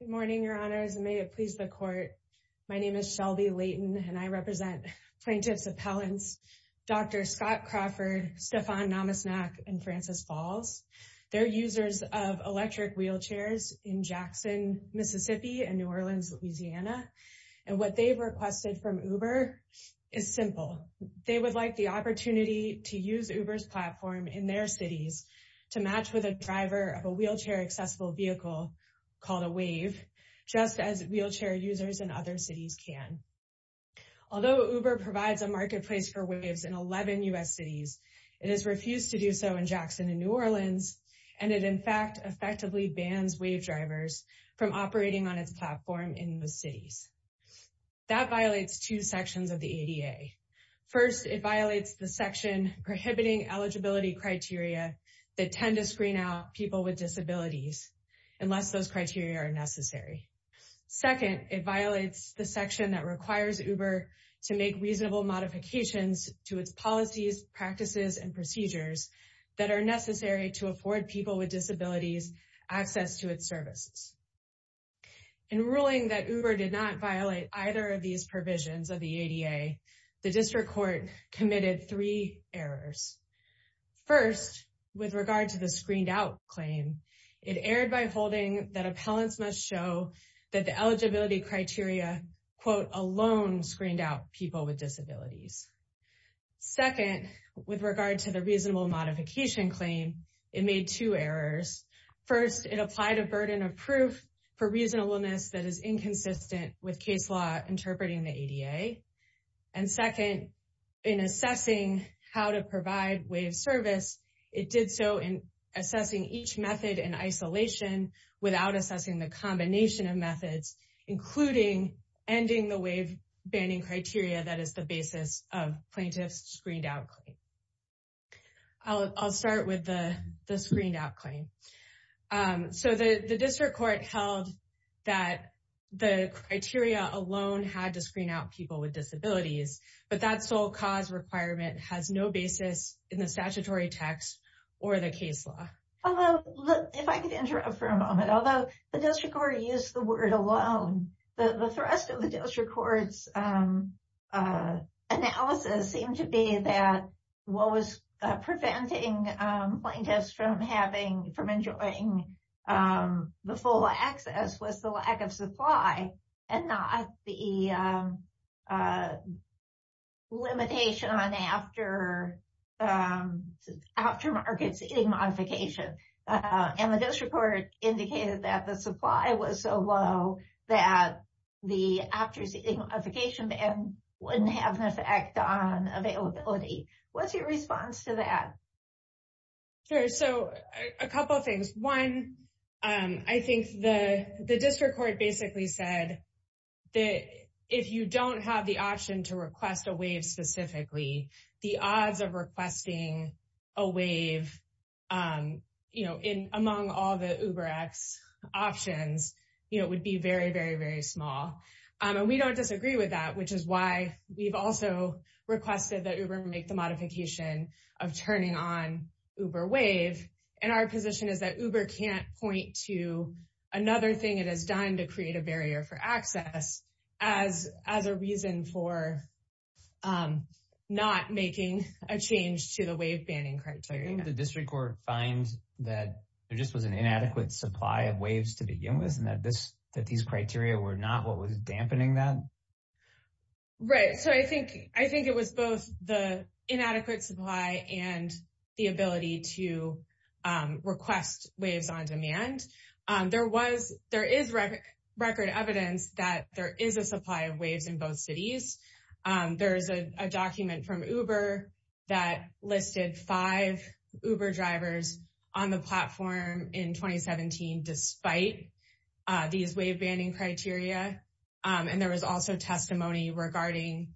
Good morning, Your Honors, and may it please the Court, my name is Shelby Leighton, and I represent Plaintiffs' Appellants Dr. Scott Crawford, Stefan Namasnak, and Frances Falls. They're users of electric wheelchairs in Jackson, Mississippi, and New Orleans, Louisiana. And what they've requested from Uber is simple. They would like the opportunity to use Uber's platform in their cities to match with a driver of a wheelchair-accessible vehicle, called a Wave, just as wheelchair users in other cities can. Although Uber provides a marketplace for Waves in 11 U.S. cities, it has refused to do so in Jackson and New Orleans, and it, in fact, effectively bans Wave drivers from operating on its platform in those cities. That violates two sections of the ADA. First, it violates the section prohibiting eligibility criteria that tend to screen out people with disabilities, unless those criteria are necessary. Second, it violates the section that requires Uber to make reasonable modifications to its policies, practices, and procedures that are necessary to afford people with disabilities access to its services. In ruling that Uber did not violate either of these provisions of the ADA, the district court committed three errors. First, with regard to the screened-out claim, it erred by holding that appellants must show that the eligibility criteria, quote, alone screened out people with disabilities. Second, with regard to the reasonable modification claim, it made two errors. First, it applied a burden of proof for reasonableness that is inconsistent with case law interpreting the ADA. And second, in assessing how to provide Wave service, it did so in assessing each method in isolation without assessing the combination of methods, including ending the Wave banning criteria that is the basis of plaintiff's screened-out claim. I'll start with the screened-out claim. So the district court held that the criteria alone had to screen out people with disabilities, but that sole cause requirement has no basis in the statutory text or the case law. Although, if I could interrupt for a moment, although the district court used the word alone, the thrust of the district court's analysis seemed to be that what was preventing plaintiffs from having, from enjoying the full access was the lack of supply and not the limitation on after, after markets in modification. And the district court indicated that the supply was so low that the after modification ban wouldn't have an effect on availability. What's your response to that? Sure. So a couple of things. One, I think the district court basically said that if you don't have the option to among all the UberX options, it would be very, very, very small. And we don't disagree with that, which is why we've also requested that Uber make the modification of turning on Uber Wave. And our position is that Uber can't point to another thing it has done to create a barrier for access as a reason for not making a change to the Wave banning criteria. Did the district court find that there just was an inadequate supply of waves to begin with and that these criteria were not what was dampening that? Right. So I think it was both the inadequate supply and the ability to request waves on demand. There is record evidence that there is a supply of waves in both cities. There is a document from Uber that listed five Uber drivers on the platform in 2017, despite these Wave banning criteria. And there was also testimony regarding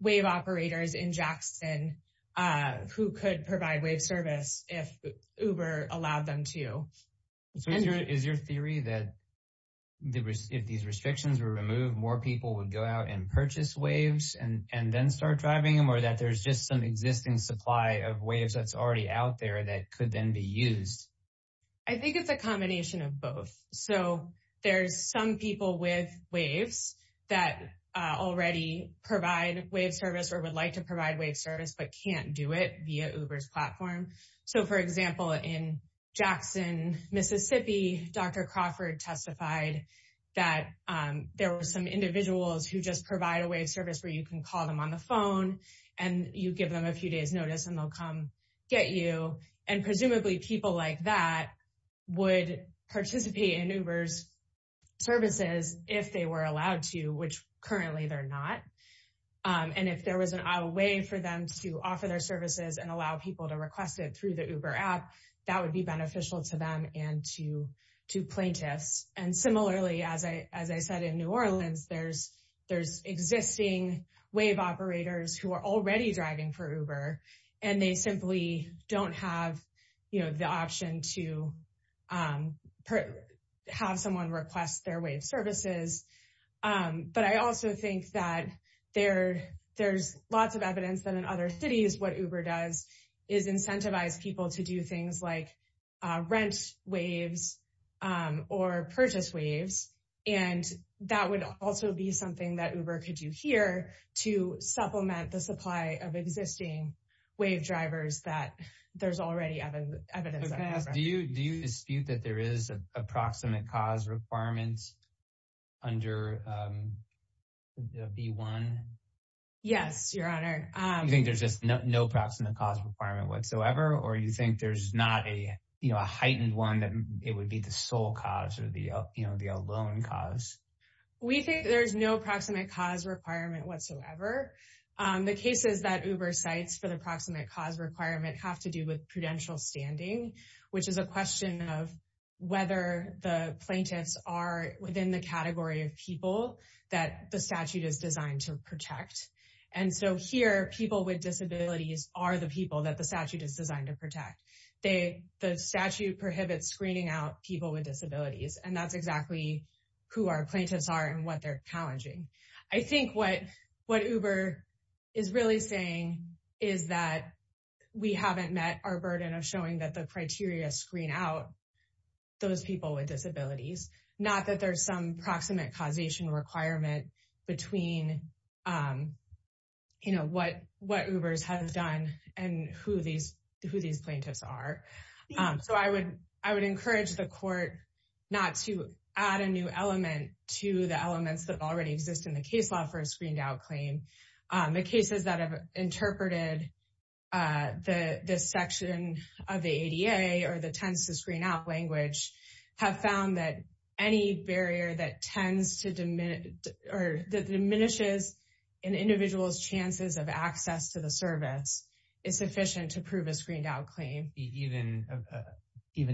Wave operators in Jackson who could provide Wave service if Uber allowed them to. Is your theory that if these restrictions were removed, more people would go out and request waves and then start driving them, or that there's just some existing supply of waves that's already out there that could then be used? I think it's a combination of both. So there's some people with waves that already provide Wave service or would like to provide Wave service but can't do it via Uber's platform. So, for example, in Jackson, Mississippi, Dr. Crawford testified that there were some you can call them on the phone and you give them a few days notice and they'll come get you. And presumably people like that would participate in Uber's services if they were allowed to, which currently they're not. And if there was a way for them to offer their services and allow people to request it through the Uber app, that would be beneficial to them and to plaintiffs. And similarly, as I said, in New Orleans, there's existing Wave operators who are already driving for Uber and they simply don't have the option to have someone request their Wave services. But I also think that there's lots of evidence that in other cities what Uber does is incentivize people to do things like rent Waves or purchase Waves. And that would also be something that Uber could do here to supplement the supply of existing Wave drivers that there's already evidence of. Do you dispute that there is a proximate cause requirement under B1? Yes, Your Honor. You think there's just no proximate cause requirement whatsoever or you think there's not a heightened one that it would be the sole cause or the alone cause? We think there's no proximate cause requirement whatsoever. The cases that Uber cites for the proximate cause requirement have to do with prudential standing, which is a question of whether the plaintiffs are within the category of people that the statute is designed to protect. And so here, people with disabilities are the people that the statute is designed to protect. The statute prohibits screening out people with disabilities, and that's exactly who our plaintiffs are and what they're challenging. I think what Uber is really saying is that we haven't met our burden of showing that the criteria screen out those people with disabilities, not that there's some proximate causation requirement between what Uber has done and who these plaintiffs are. So I would encourage the court not to add a new element to the elements that already exist in the case law for a screened out claim. The cases that have interpreted the section of the ADA or the tends to screen out language have found that any barrier that diminishes an individual's chances of access to the service is sufficient to prove a screened out claim. Even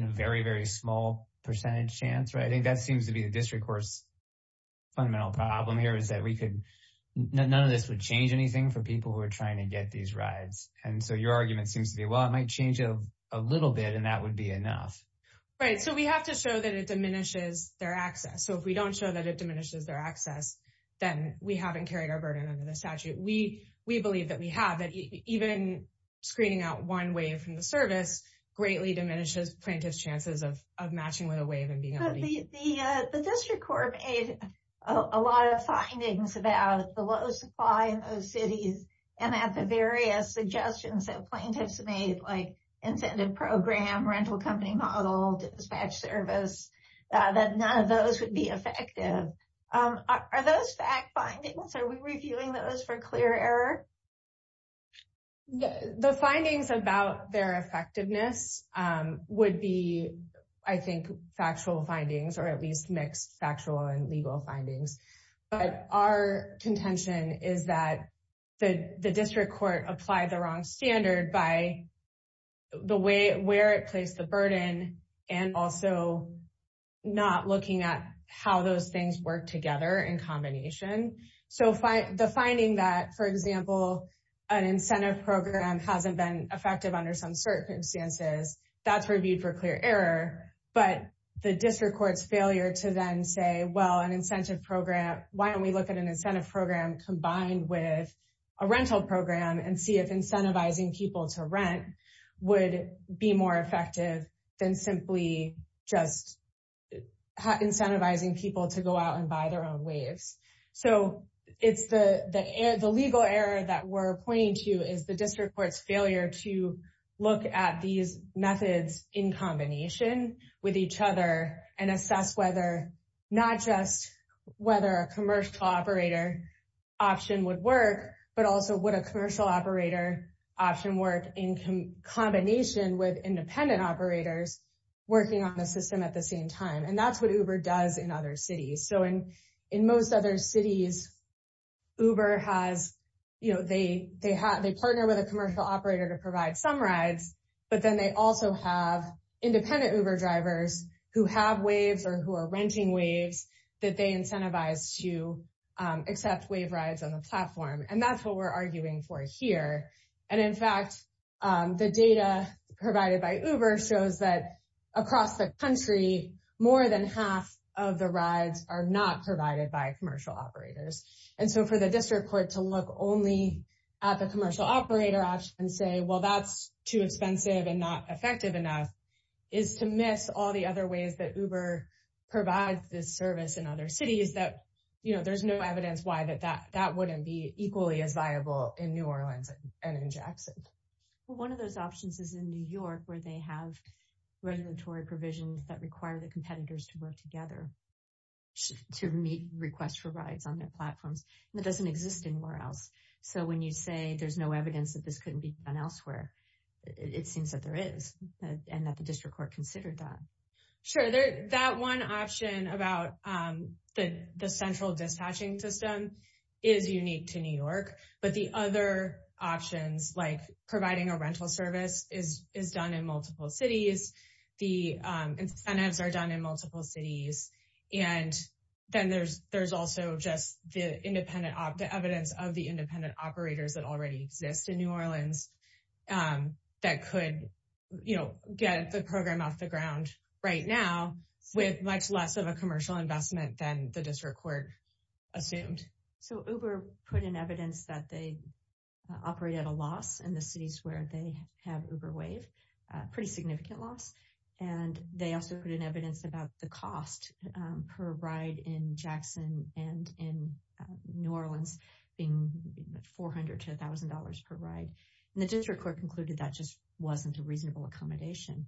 a very, very small percentage chance, right? I think that seems to be the district court's fundamental problem here is that none of this would change anything for people who are trying to get these rides. And so your argument seems to be, well, it might change a little bit and that would be enough. Right. So we have to show that it diminishes their access. So if we don't show that it diminishes their access, then we haven't carried our burden under the statute. We believe that we have, that even screening out one way from the service greatly diminishes plaintiffs' chances of matching with a wave and being able to use it. The district court made a lot of findings about the low supply in those cities and at various suggestions that plaintiffs made like incentive program, rental company model, dispatch service, that none of those would be effective. Are those fact findings? Are we reviewing those for clear error? The findings about their effectiveness would be, I think, factual findings or at least mixed factual and legal findings. But our contention is that the district court applied the wrong standard by where it placed the burden and also not looking at how those things work together in combination. So the finding that, for example, an incentive program hasn't been effective under some circumstances, that's reviewed for clear error. But the district court's failure to then say, well, an incentive program, why don't we look at an incentive program combined with a rental program and see if incentivizing people to rent would be more effective than simply just incentivizing people to go out and buy their own waves. So it's the legal error that we're pointing to is the district court's failure to look at these methods in combination with each other and assess whether not just whether a commercial operator option would work, but also would a commercial operator option work in combination with independent operators working on the system at the same time. And that's what Uber does in other cities. So in most other cities, Uber has, you know, they partner with a commercial operator to but then they also have independent Uber drivers who have waves or who are renting waves that they incentivize to accept wave rides on the platform. And that's what we're arguing for here. And in fact, the data provided by Uber shows that across the country, more than half of the rides are not provided by commercial operators. And so for the district court to look only at the commercial operator option and say, well, that's too expensive and not effective enough, is to miss all the other ways that Uber provides this service in other cities that, you know, there's no evidence why that wouldn't be equally as viable in New Orleans and in Jackson. One of those options is in New York, where they have regulatory provisions that require the competitors to work together to meet requests for rides on their platforms. That doesn't exist anywhere else. So when you say there's no evidence that this couldn't be done elsewhere, it seems that there is and that the district court considered that. Sure, that one option about the central dispatching system is unique to New York. But the other options, like providing a rental service, is done in multiple cities. The incentives are done in multiple cities. And then there's also just the evidence of the independent operators that already exist in New Orleans that could, you know, get the program off the ground right now with much less of a commercial investment than the district court assumed. So Uber put in evidence that they operate at a loss in the cities where they have UberWave, pretty significant loss. And they also put in evidence about the cost per ride in Jackson and in New Orleans being $400,000 to $1,000 per ride. And the district court concluded that just wasn't a reasonable accommodation.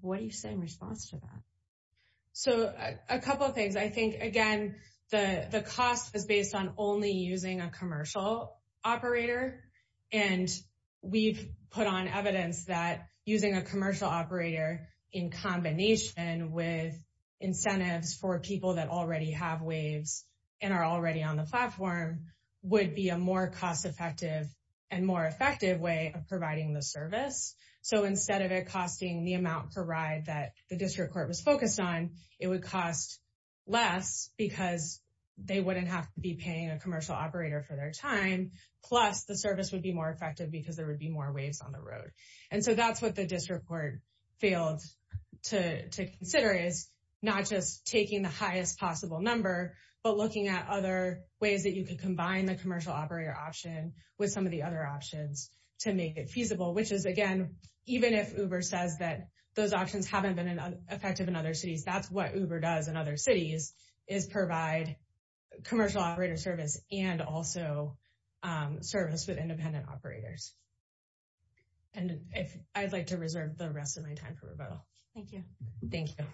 What do you say in response to that? So a couple of things. I think, again, the cost is based on only using a commercial operator. And we've put on evidence that using a commercial operator in combination with incentives for people that already have waves and are already on the platform would be a more cost effective and more effective way of providing the service. So instead of it costing the amount per ride that the district court was focused on, it would cost less because they wouldn't have to be paying a commercial operator for their time. Plus the service would be more effective because there would be more waves on the road. And so that's what the district court failed to consider is not just taking the highest possible number, but looking at other ways that you could combine the commercial operator option with some of the other options to make it feasible, which is, again, even if Uber says that those options haven't been effective in other cities, that's what Uber does in other cities is provide commercial operator service and also service with independent operators. And I'd like to reserve the rest of my time for rebuttal. Thank you. Thank you.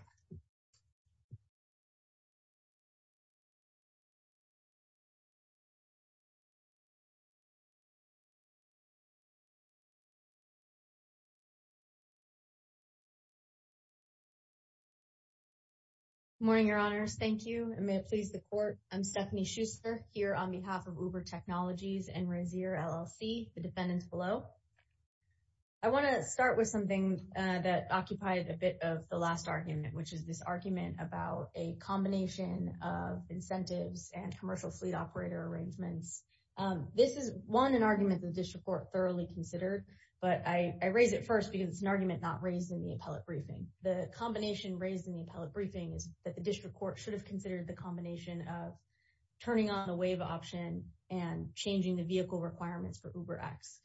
Good morning, Your Honors. Thank you. And may it please the court, I'm Stephanie Schuster here on behalf of Uber Technologies and Resier LLC, the defendants below. I want to start with something that occupied a bit of the last argument, which is this argument about a combination of incentives and commercial fleet operator arrangements. This is, one, an argument the district court thoroughly considered, but I raise it first because it's an argument not raised in the appellate briefing. The combination raised in the appellate briefing is that the district court should have considered the combination of turning on the wave option and changing the vehicle requirements for UberX.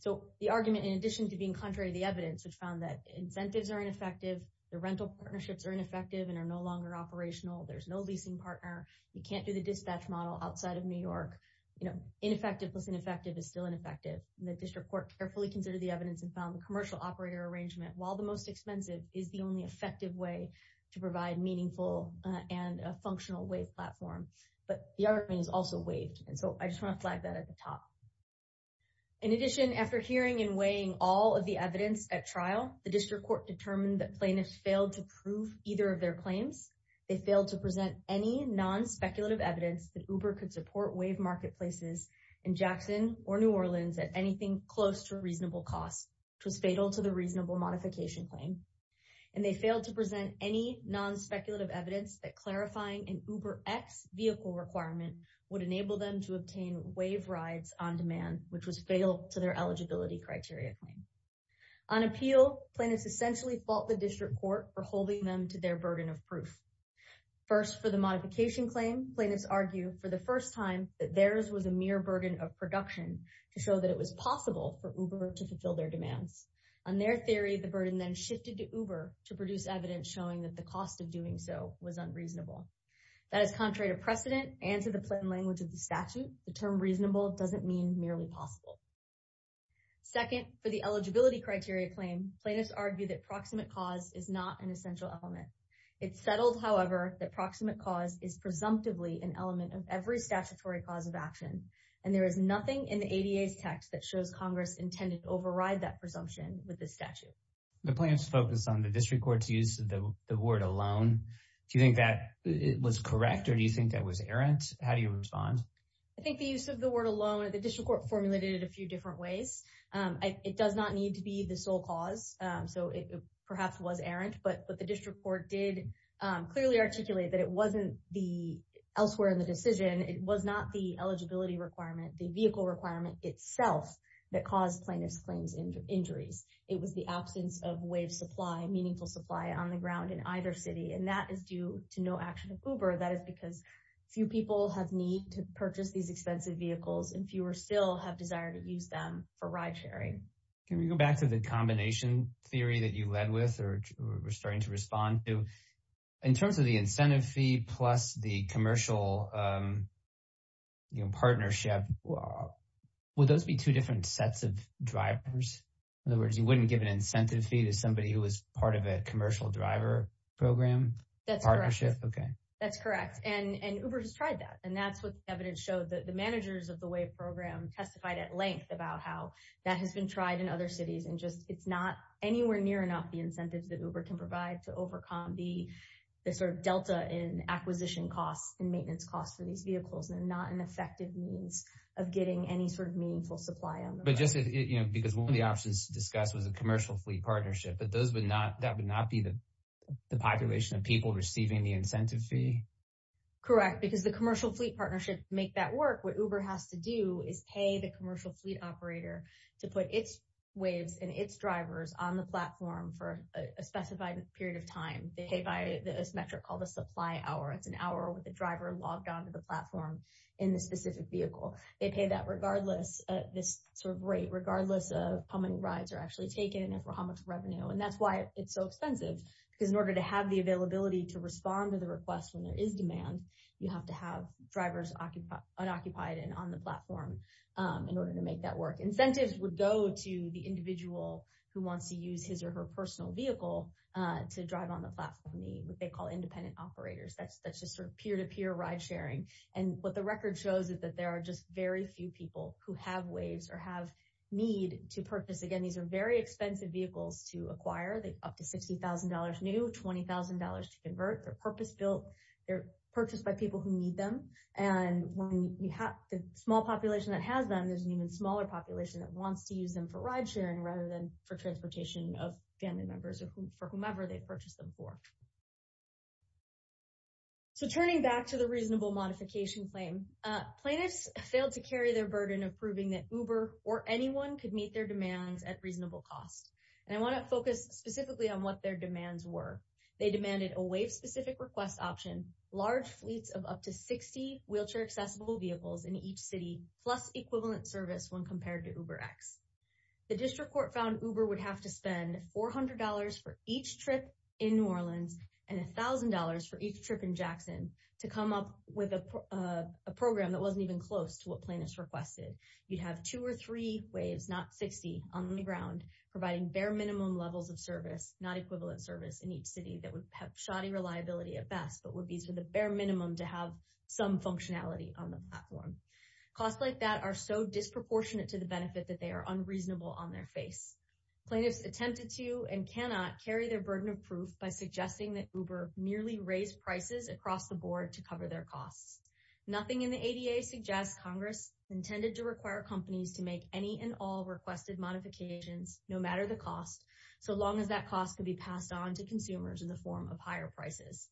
So the argument, in addition to being contrary to the evidence, which found that incentives are ineffective, the rental partnerships are ineffective and are no longer operational. There's no leasing partner. You can't do the dispatch model outside of New York. You know, ineffective plus ineffective is still ineffective. The district court carefully considered the evidence and found the commercial operator arrangement, while the most expensive, is the only effective way to provide meaningful and a functional wave platform. But the other thing is also waived. And so I just want to flag that at the top. In addition, after hearing and weighing all of the evidence at trial, the district court determined that plaintiffs failed to prove either of their claims. They failed to present any non-speculative evidence that Uber could support wave marketplaces in Jackson or New Orleans at anything close to reasonable cost, which was fatal to the reasonable modification claim. And they failed to present any non-speculative evidence that clarifying an UberX vehicle requirement would enable them to obtain wave rides on demand, which was fatal to their eligibility criteria claim. On appeal, plaintiffs essentially fault the district court for holding them to their burden of proof. First, for the modification claim, plaintiffs argue for the first time that theirs was a mere burden of production to show that it was possible for Uber to fulfill their demands. On their theory, the burden then shifted to Uber to produce evidence showing that the cost of doing so was unreasonable. That is contrary to precedent and to the plain language of the statute. The term reasonable doesn't mean merely possible. Second, for the eligibility criteria claim, plaintiffs argue that proximate cause is not an essential element. It's settled, however, that proximate cause is presumptively an element of every statutory cause of action. And there is nothing in the ADA's text that shows Congress intended to override that presumption with this statute. The plaintiffs focused on the district court's use of the word alone. Do you think that was correct or do you think that was errant? How do you respond? I think the use of the word alone, the district court formulated it a few different ways. It does not need to be the sole cause. So it perhaps was errant, but the district court did clearly articulate that it wasn't the elsewhere in the decision. It was not the eligibility requirement, the vehicle requirement itself that caused plaintiffs claims injuries. It was the absence of way of supply, meaningful supply on the ground in either city. And that is due to no action of Uber. That is because few people have need to purchase these expensive vehicles and fewer still have desire to use them for ride sharing. Can we go back to the combination theory that you led with or were starting to respond to? In terms of the incentive fee plus the commercial partnership, would those be two different sets of drivers? In other words, you wouldn't give an incentive fee to somebody who was part of a commercial driver program? That's correct. Okay. That's correct. And Uber has tried that. And that's what the evidence showed that the managers of the way program testified at length about how that has been tried in other cities. And just it's not anywhere near enough the incentives that Uber can provide to overcome the sort of delta in acquisition costs and maintenance costs for these vehicles. They're not an effective means of getting any sort of meaningful supply on the ground. But just because one of the options discussed was a commercial fleet partnership, but that would not be the population of people receiving the incentive fee? Correct. Because the commercial fleet partnership make that work. What Uber has to do is pay the commercial fleet operator to put its waves and its drivers on the platform for a specified period of time. This metric called the supply hour. It's an hour with the driver logged onto the platform in the specific vehicle. They pay that regardless of this sort of rate, regardless of how many rides are actually taken and for how much revenue. And that's why it's so expensive. Because in order to have the availability to respond to the request when there is demand, you have to have drivers unoccupied and on the platform in order to make that work. Incentives would go to the individual who wants to use his or her personal vehicle to drive on the platform, what they call independent operators. That's just sort of peer-to-peer ride sharing. And what the record shows is that there are just very few people who have waves or have need to purchase. Again, these are very expensive vehicles to acquire. They're up to $60,000 new, $20,000 to convert. They're purpose-built. They're purchased by people who need them. And when you have the small population that has them, there's an even smaller population that wants to use them for ride sharing rather than for transportation of family members for whomever they purchased them for. So turning back to the reasonable modification claim, plaintiffs failed to carry their burden of proving that Uber or anyone could meet their demands at reasonable cost. And I want to focus specifically on what their demands were. They demanded a wave-specific request option, large fleets of up to 60 wheelchair-accessible vehicles in each city, plus equivalent service when compared to UberX. The district court found Uber would have to spend $400 for each trip in New Orleans and $1,000 for each trip in Jackson to come up with a program that wasn't even close to what plaintiffs requested. You'd have two or three waves, not 60, on the ground providing bare minimum levels of service, not equivalent service in each city that would have shoddy reliability at best, but would be to the bare minimum to have some functionality on the platform. Costs like that are so disproportionate to the benefit that they are unreasonable on their face. Plaintiffs attempted to and cannot carry their burden of proof by suggesting that Uber merely raised prices across the board to cover their costs. Nothing in the ADA suggests Congress intended to require companies to make any and all requested modifications, no matter the cost, so long as that cost could be passed on to consumers in the form of higher prices.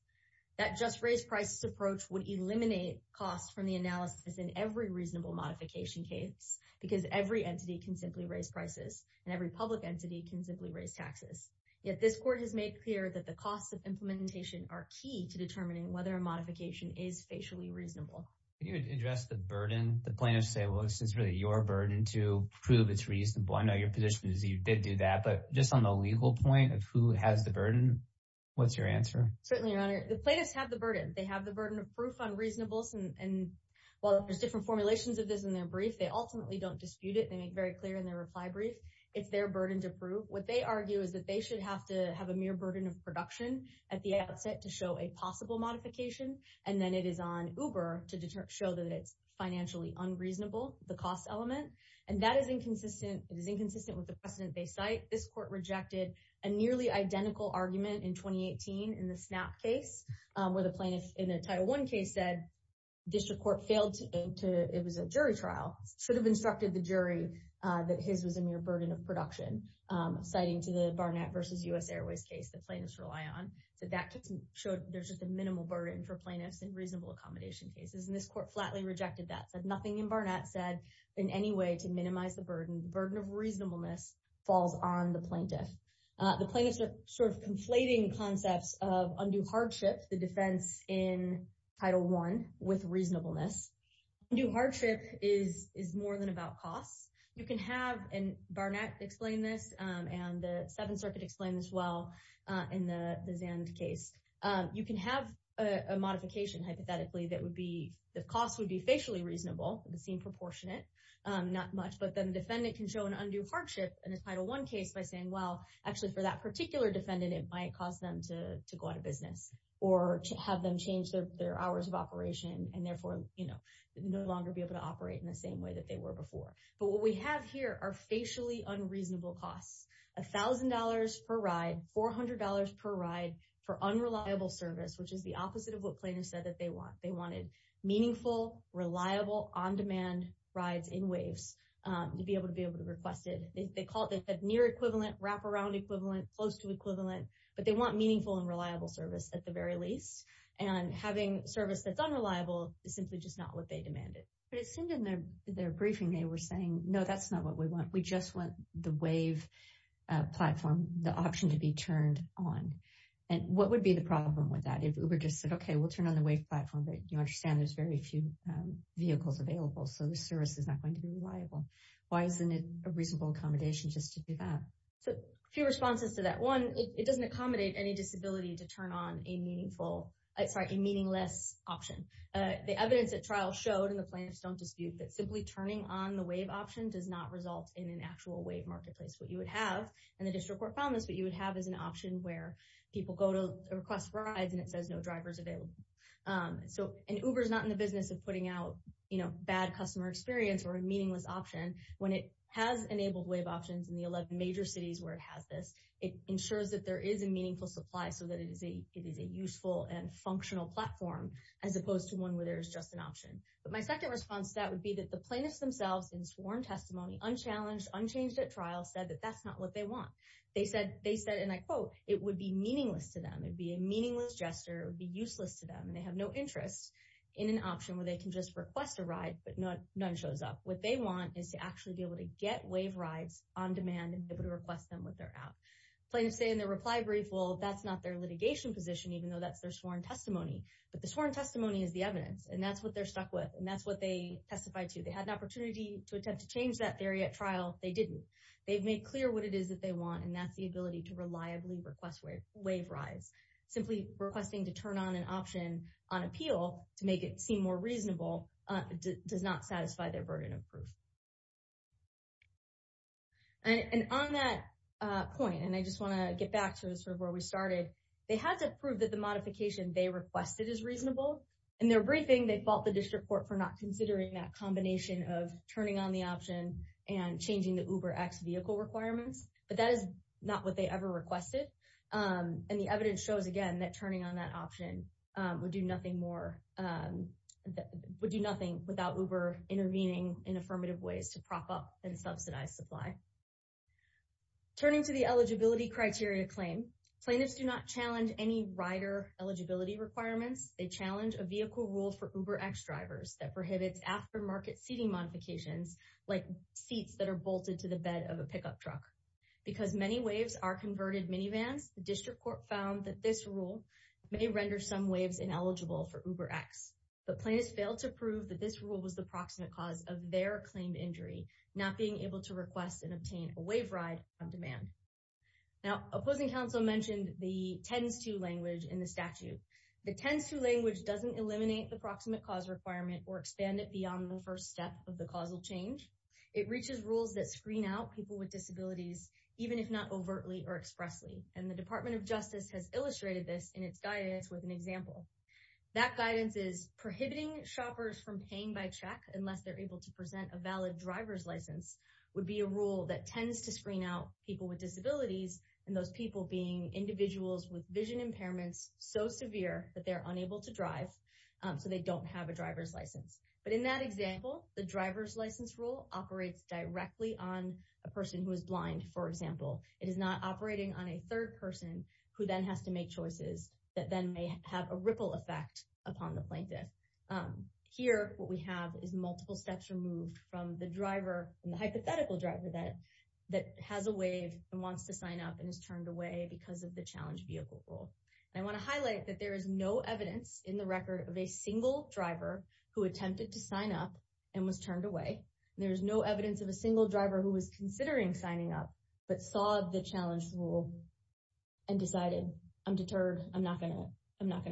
That just-raised-prices approach would eliminate costs from the analysis in every reasonable modification case because every entity can simply raise prices, and every public entity can simply raise taxes. Yet this court has made clear that the costs of implementation are key to determining whether a modification is facially reasonable. Can you address the burden? The plaintiffs say, well, this is really your burden to prove it's reasonable. I know your position is you did do that, but just on the legal point of who has the burden, what's your answer? Certainly, Your Honor. The plaintiffs have the burden. They have the burden of proof on reasonables, and while there's different formulations of this in their brief, they ultimately don't dispute it. They make very clear in their reply brief it's their burden to prove. What they argue is that they should have to have a mere burden of production at the outset to show a possible modification, and then it is on Uber to show that it's financially unreasonable, the cost element. And that is inconsistent. It is inconsistent with the precedent they cite. This court rejected a nearly identical argument in 2018 in the SNAP case where the plaintiff in a Title I case said district court failed to it was a jury trial, should have instructed the jury that his was a mere burden of production, citing to the Barnett versus U.S. Airways case the plaintiffs rely on. So that just showed there's just a minimal burden for plaintiffs in reasonable accommodation cases, and this court flatly rejected that, said nothing in Barnett said in any way to minimize the burden. Burden of reasonableness falls on the plaintiff. The plaintiffs are sort of conflating concepts of undue hardship, the defense in Title I with reasonableness. Undue hardship is more than about costs. You can have, and Barnett explained this, and the Seventh Circuit explained this well in the Zand case. You can have a modification, hypothetically, that would be, the cost would be facially reasonable, would seem proportionate, not much. But then the defendant can show an undue hardship in a Title I case by saying, well, actually for that particular defendant, it might cause them to go out of business or to have them change their hours of operation and therefore, you know, no longer be able to operate in the same way that they were before. But what we have here are facially unreasonable costs, $1,000 per ride, $400 per ride for unreliable service, which is the opposite of what plaintiffs said that they want. Meaningful, reliable, on-demand rides in WAVES to be able to be requested. They call it the near equivalent, wraparound equivalent, close to equivalent, but they want meaningful and reliable service at the very least. And having service that's unreliable is simply just not what they demanded. But it seemed in their briefing, they were saying, no, that's not what we want. We just want the WAVE platform, the option to be turned on. And what would be the problem with that? Uber just said, okay, we'll turn on the WAVE platform, but you understand there's very few vehicles available. So the service is not going to be reliable. Why isn't it a reasonable accommodation just to do that? So a few responses to that. One, it doesn't accommodate any disability to turn on a meaningful, sorry, a meaningless option. The evidence at trial showed, and the plaintiffs don't dispute, that simply turning on the WAVE option does not result in an actual WAVE marketplace. What you would have, and the district court found this, what you would have is an option where people go to request rides and it says no drivers available. So, and Uber's not in the business of putting out bad customer experience or a meaningless option. When it has enabled WAVE options in the 11 major cities where it has this, it ensures that there is a meaningful supply so that it is a useful and functional platform as opposed to one where there's just an option. But my second response to that would be that the plaintiffs themselves in sworn testimony, unchallenged, unchanged at trial, said that that's not what they want. They said, and I quote, it would be meaningless to them. It would be a meaningless gesture. It would be useless to them. And they have no interest in an option where they can just request a ride, but none shows up. What they want is to actually be able to get WAVE rides on demand and be able to request them with their app. Plaintiffs say in their reply brief, well, that's not their litigation position, even though that's their sworn testimony. But the sworn testimony is the evidence. And that's what they're stuck with. And that's what they testified to. They had an opportunity to attempt to change that theory at trial. They didn't. They've made clear what it is that they want. And that's the ability to reliably request WAVE rides. Simply requesting to turn on an option on appeal to make it seem more reasonable does not satisfy their burden of proof. And on that point, and I just want to get back to sort of where we started, they had to prove that the modification they requested is reasonable. In their briefing, they fault the district court for not considering that combination of turning on the option and changing the UberX vehicle requirements. But that is not what they ever requested. And the evidence shows, again, that turning on that option would do nothing without Uber intervening in affirmative ways to prop up and subsidize supply. Turning to the eligibility criteria claim, plaintiffs do not challenge any rider eligibility requirements. They challenge a vehicle rule for UberX drivers that prohibits aftermarket seating modifications like seats that are bolted to the bed of a pickup truck. Because many WAVEs are converted minivans, the district court found that this rule may render some WAVEs ineligible for UberX. But plaintiffs failed to prove that this rule was the proximate cause of their claimed injury, not being able to request and obtain a WAVE ride on demand. Now, opposing counsel mentioned the tends to language in the statute. The tends to language doesn't eliminate the proximate cause requirement or expand it beyond the first step of the causal change. It reaches rules that screen out people with disabilities, even if not overtly or expressly. And the Department of Justice has illustrated this in its guidance with an example. That guidance is prohibiting shoppers from paying by check unless they're able to present a valid driver's license would be a rule that tends to screen out people with disabilities and those people being individuals with vision impairments so severe that they're unable to drive so they don't have a driver's license. But in that example, the driver's license rule operates directly on a person who is blind. For example, it is not operating on a third person who then has to make choices that then may have a ripple effect upon the plaintiff. Here, what we have is multiple steps removed from the driver and the hypothetical driver that has a wave and wants to sign up and is turned away because of the challenge vehicle rule. I want to highlight that there is no evidence in the record of a single driver who attempted to sign up and was turned away. There's no evidence of a single driver who was considering signing up but saw the challenge rule and decided, I'm deterred. I'm not going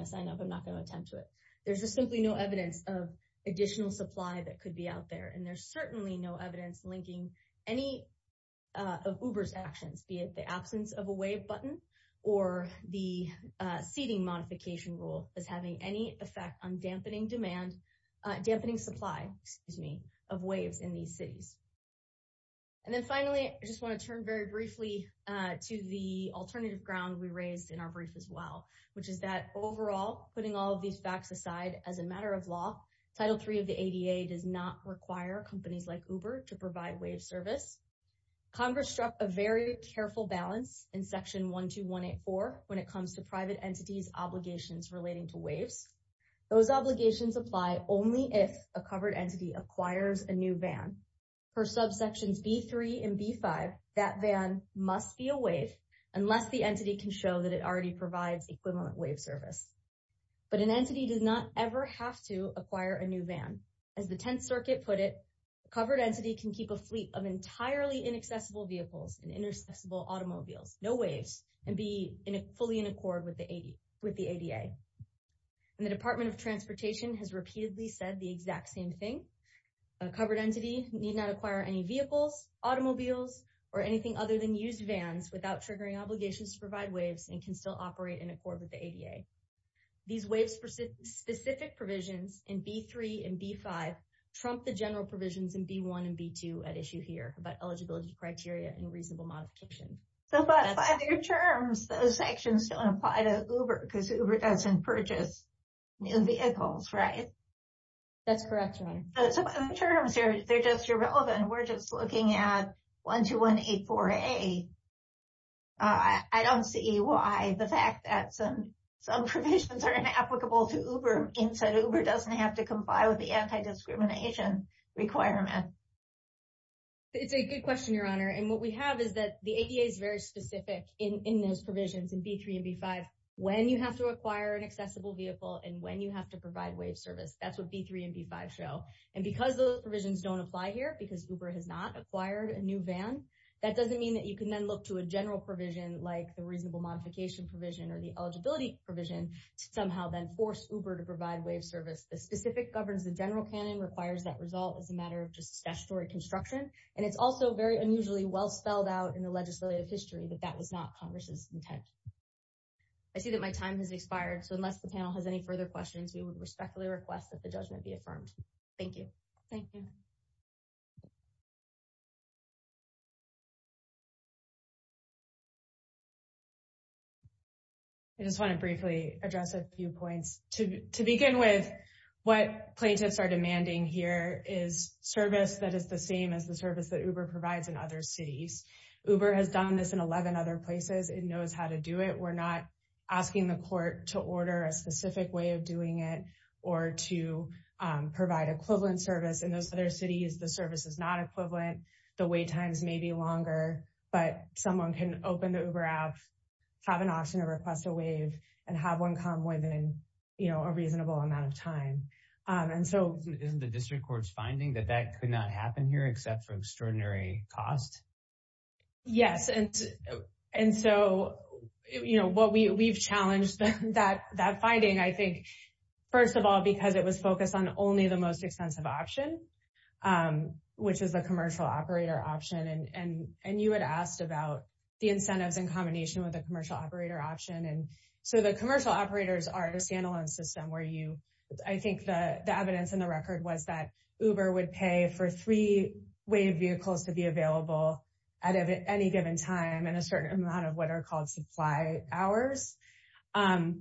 to sign up. I'm not going to attempt to it. There's just simply no evidence of additional supply that could be out there. There's certainly no evidence linking any of Uber's actions, be it the absence of a wave button or the seating modification rule as having any effect on dampening supply of waves in these cities. Then finally, I just want to turn very briefly to the alternative ground we raised in our brief as well, which is that overall, putting all of these facts aside as a matter of law, Title III of the ADA does not require companies like Uber to provide wave service. Congress struck a very careful balance in Section 12184 when it comes to private entities obligations relating to waves. Those obligations apply only if a covered entity acquires a new van. Per subsections B3 and B5, that van must be a wave unless the entity can show that it already provides equivalent wave service. But an entity does not ever have to acquire a new van. As the 10th Circuit put it, a covered entity can keep a fleet of entirely inaccessible vehicles and intercessible automobiles, no waves, and be fully in accord with the ADA. And the Department of Transportation has repeatedly said the exact same thing. A covered entity need not acquire any vehicles, automobiles, or anything other than used vans without triggering obligations to provide waves and can still operate in accord with the ADA. These waves specific provisions in B3 and B5 trump the general provisions in B1 and B2 at issue here about eligibility criteria and reasonable modification. So by their terms, those sections don't apply to Uber because Uber doesn't purchase new vehicles, right? That's correct, Your Honor. So by their terms, they're just irrelevant. We're just looking at 12184A. I don't see why the fact that some provisions are inapplicable to Uber means that Uber doesn't have to comply with the anti-discrimination requirement. It's a good question, Your Honor. And what we have is that the ADA is very specific in those provisions in B3 and B5 when you have to acquire an accessible vehicle and when you have to provide wave service. That's what B3 and B5 show. And because those provisions don't apply here, because Uber has not acquired a new van, that doesn't mean that you can then look to a general provision like the reasonable modification provision or the eligibility provision to somehow then force Uber to provide wave service. The specific governs the general canon, requires that result as a matter of just statutory construction. And it's also very unusually well spelled out in the legislative history that that was not Congress's intent. I see that my time has expired. So unless the panel has any further questions, we would respectfully request that the judgment be affirmed. Thank you. Thank you. I just want to briefly address a few points. To begin with, what plaintiffs are demanding here is service that is the same as the service that Uber provides in other cities. Uber has done this in 11 other places. It knows how to do it. We're not asking the court to order a specific way of doing it or to provide equivalent service in those other cities. The service is not equivalent. The wait times may be longer, but someone can open the Uber app, have an option to request a wave and have one come within, you know, a reasonable amount of time. And so isn't the district court's finding that that could not happen here except for extraordinary cost? Yes. And so, you know, what we've challenged that finding, I think, first of all, because it was focused on only the most expensive option, which is the commercial operator option. And you had asked about the incentives in combination with the commercial operator option. And so the commercial operators are a standalone system where you, I think the evidence in the record was that Uber would pay for three wave vehicles to be available at any given time and a certain amount of what are called supply hours. And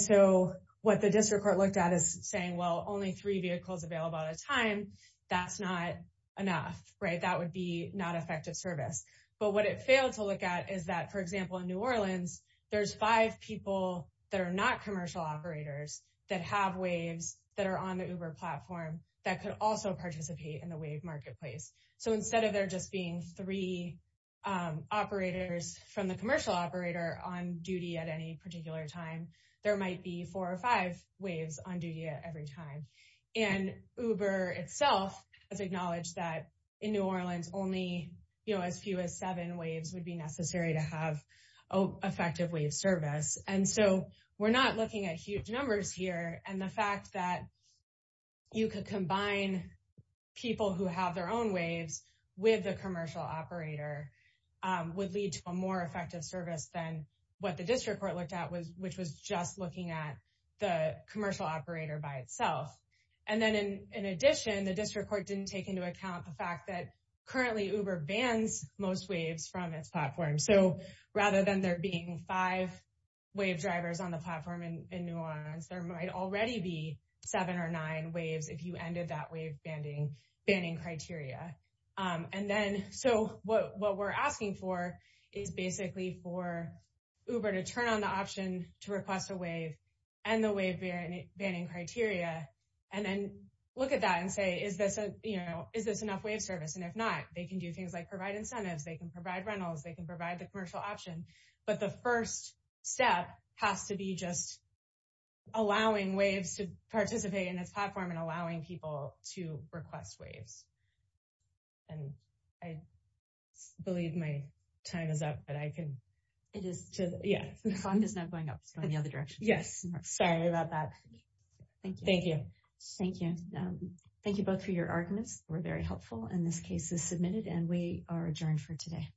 so what the district court looked at is saying, well, only three vehicles available at a time. That's not enough, right? That would be not effective service. But what it failed to look at is that, for example, in New Orleans, there's five people that are not commercial operators that have waves that are on the Uber platform that could also participate in the wave marketplace. So instead of there just being three operators from the commercial operator on duty at any particular time, there might be four or five waves on duty at every time. And Uber itself has acknowledged that in New Orleans, only as few as seven waves would be necessary to have effective wave service. And so we're not looking at huge numbers here. And the fact that you could combine people who have their own waves with the commercial operator would lead to a more effective service than what the district court looked at, which was just looking at the commercial operator by itself. And then in addition, the district court didn't take into account the fact that currently Uber bans most waves from its platform. So rather than there being five wave drivers on the platform in New Orleans, there might already be seven or nine waves if you ended that wave banning criteria. And then so what we're asking for is basically for Uber to turn on the option to request a wave and the wave banning criteria, and then look at that and say, is this enough wave service? And if not, they can do things like provide incentives. They can provide rentals. They can provide the commercial option. But the first step has to be just allowing waves to participate in its platform and allowing people to request waves. And I believe my time is up, but I can. It is. Yeah. The song is not going up. It's going the other direction. Yes. Sorry about that. Thank you. Thank you. Thank you. Thank you both for your arguments. We're very helpful. And this case is submitted and we are adjourned for today.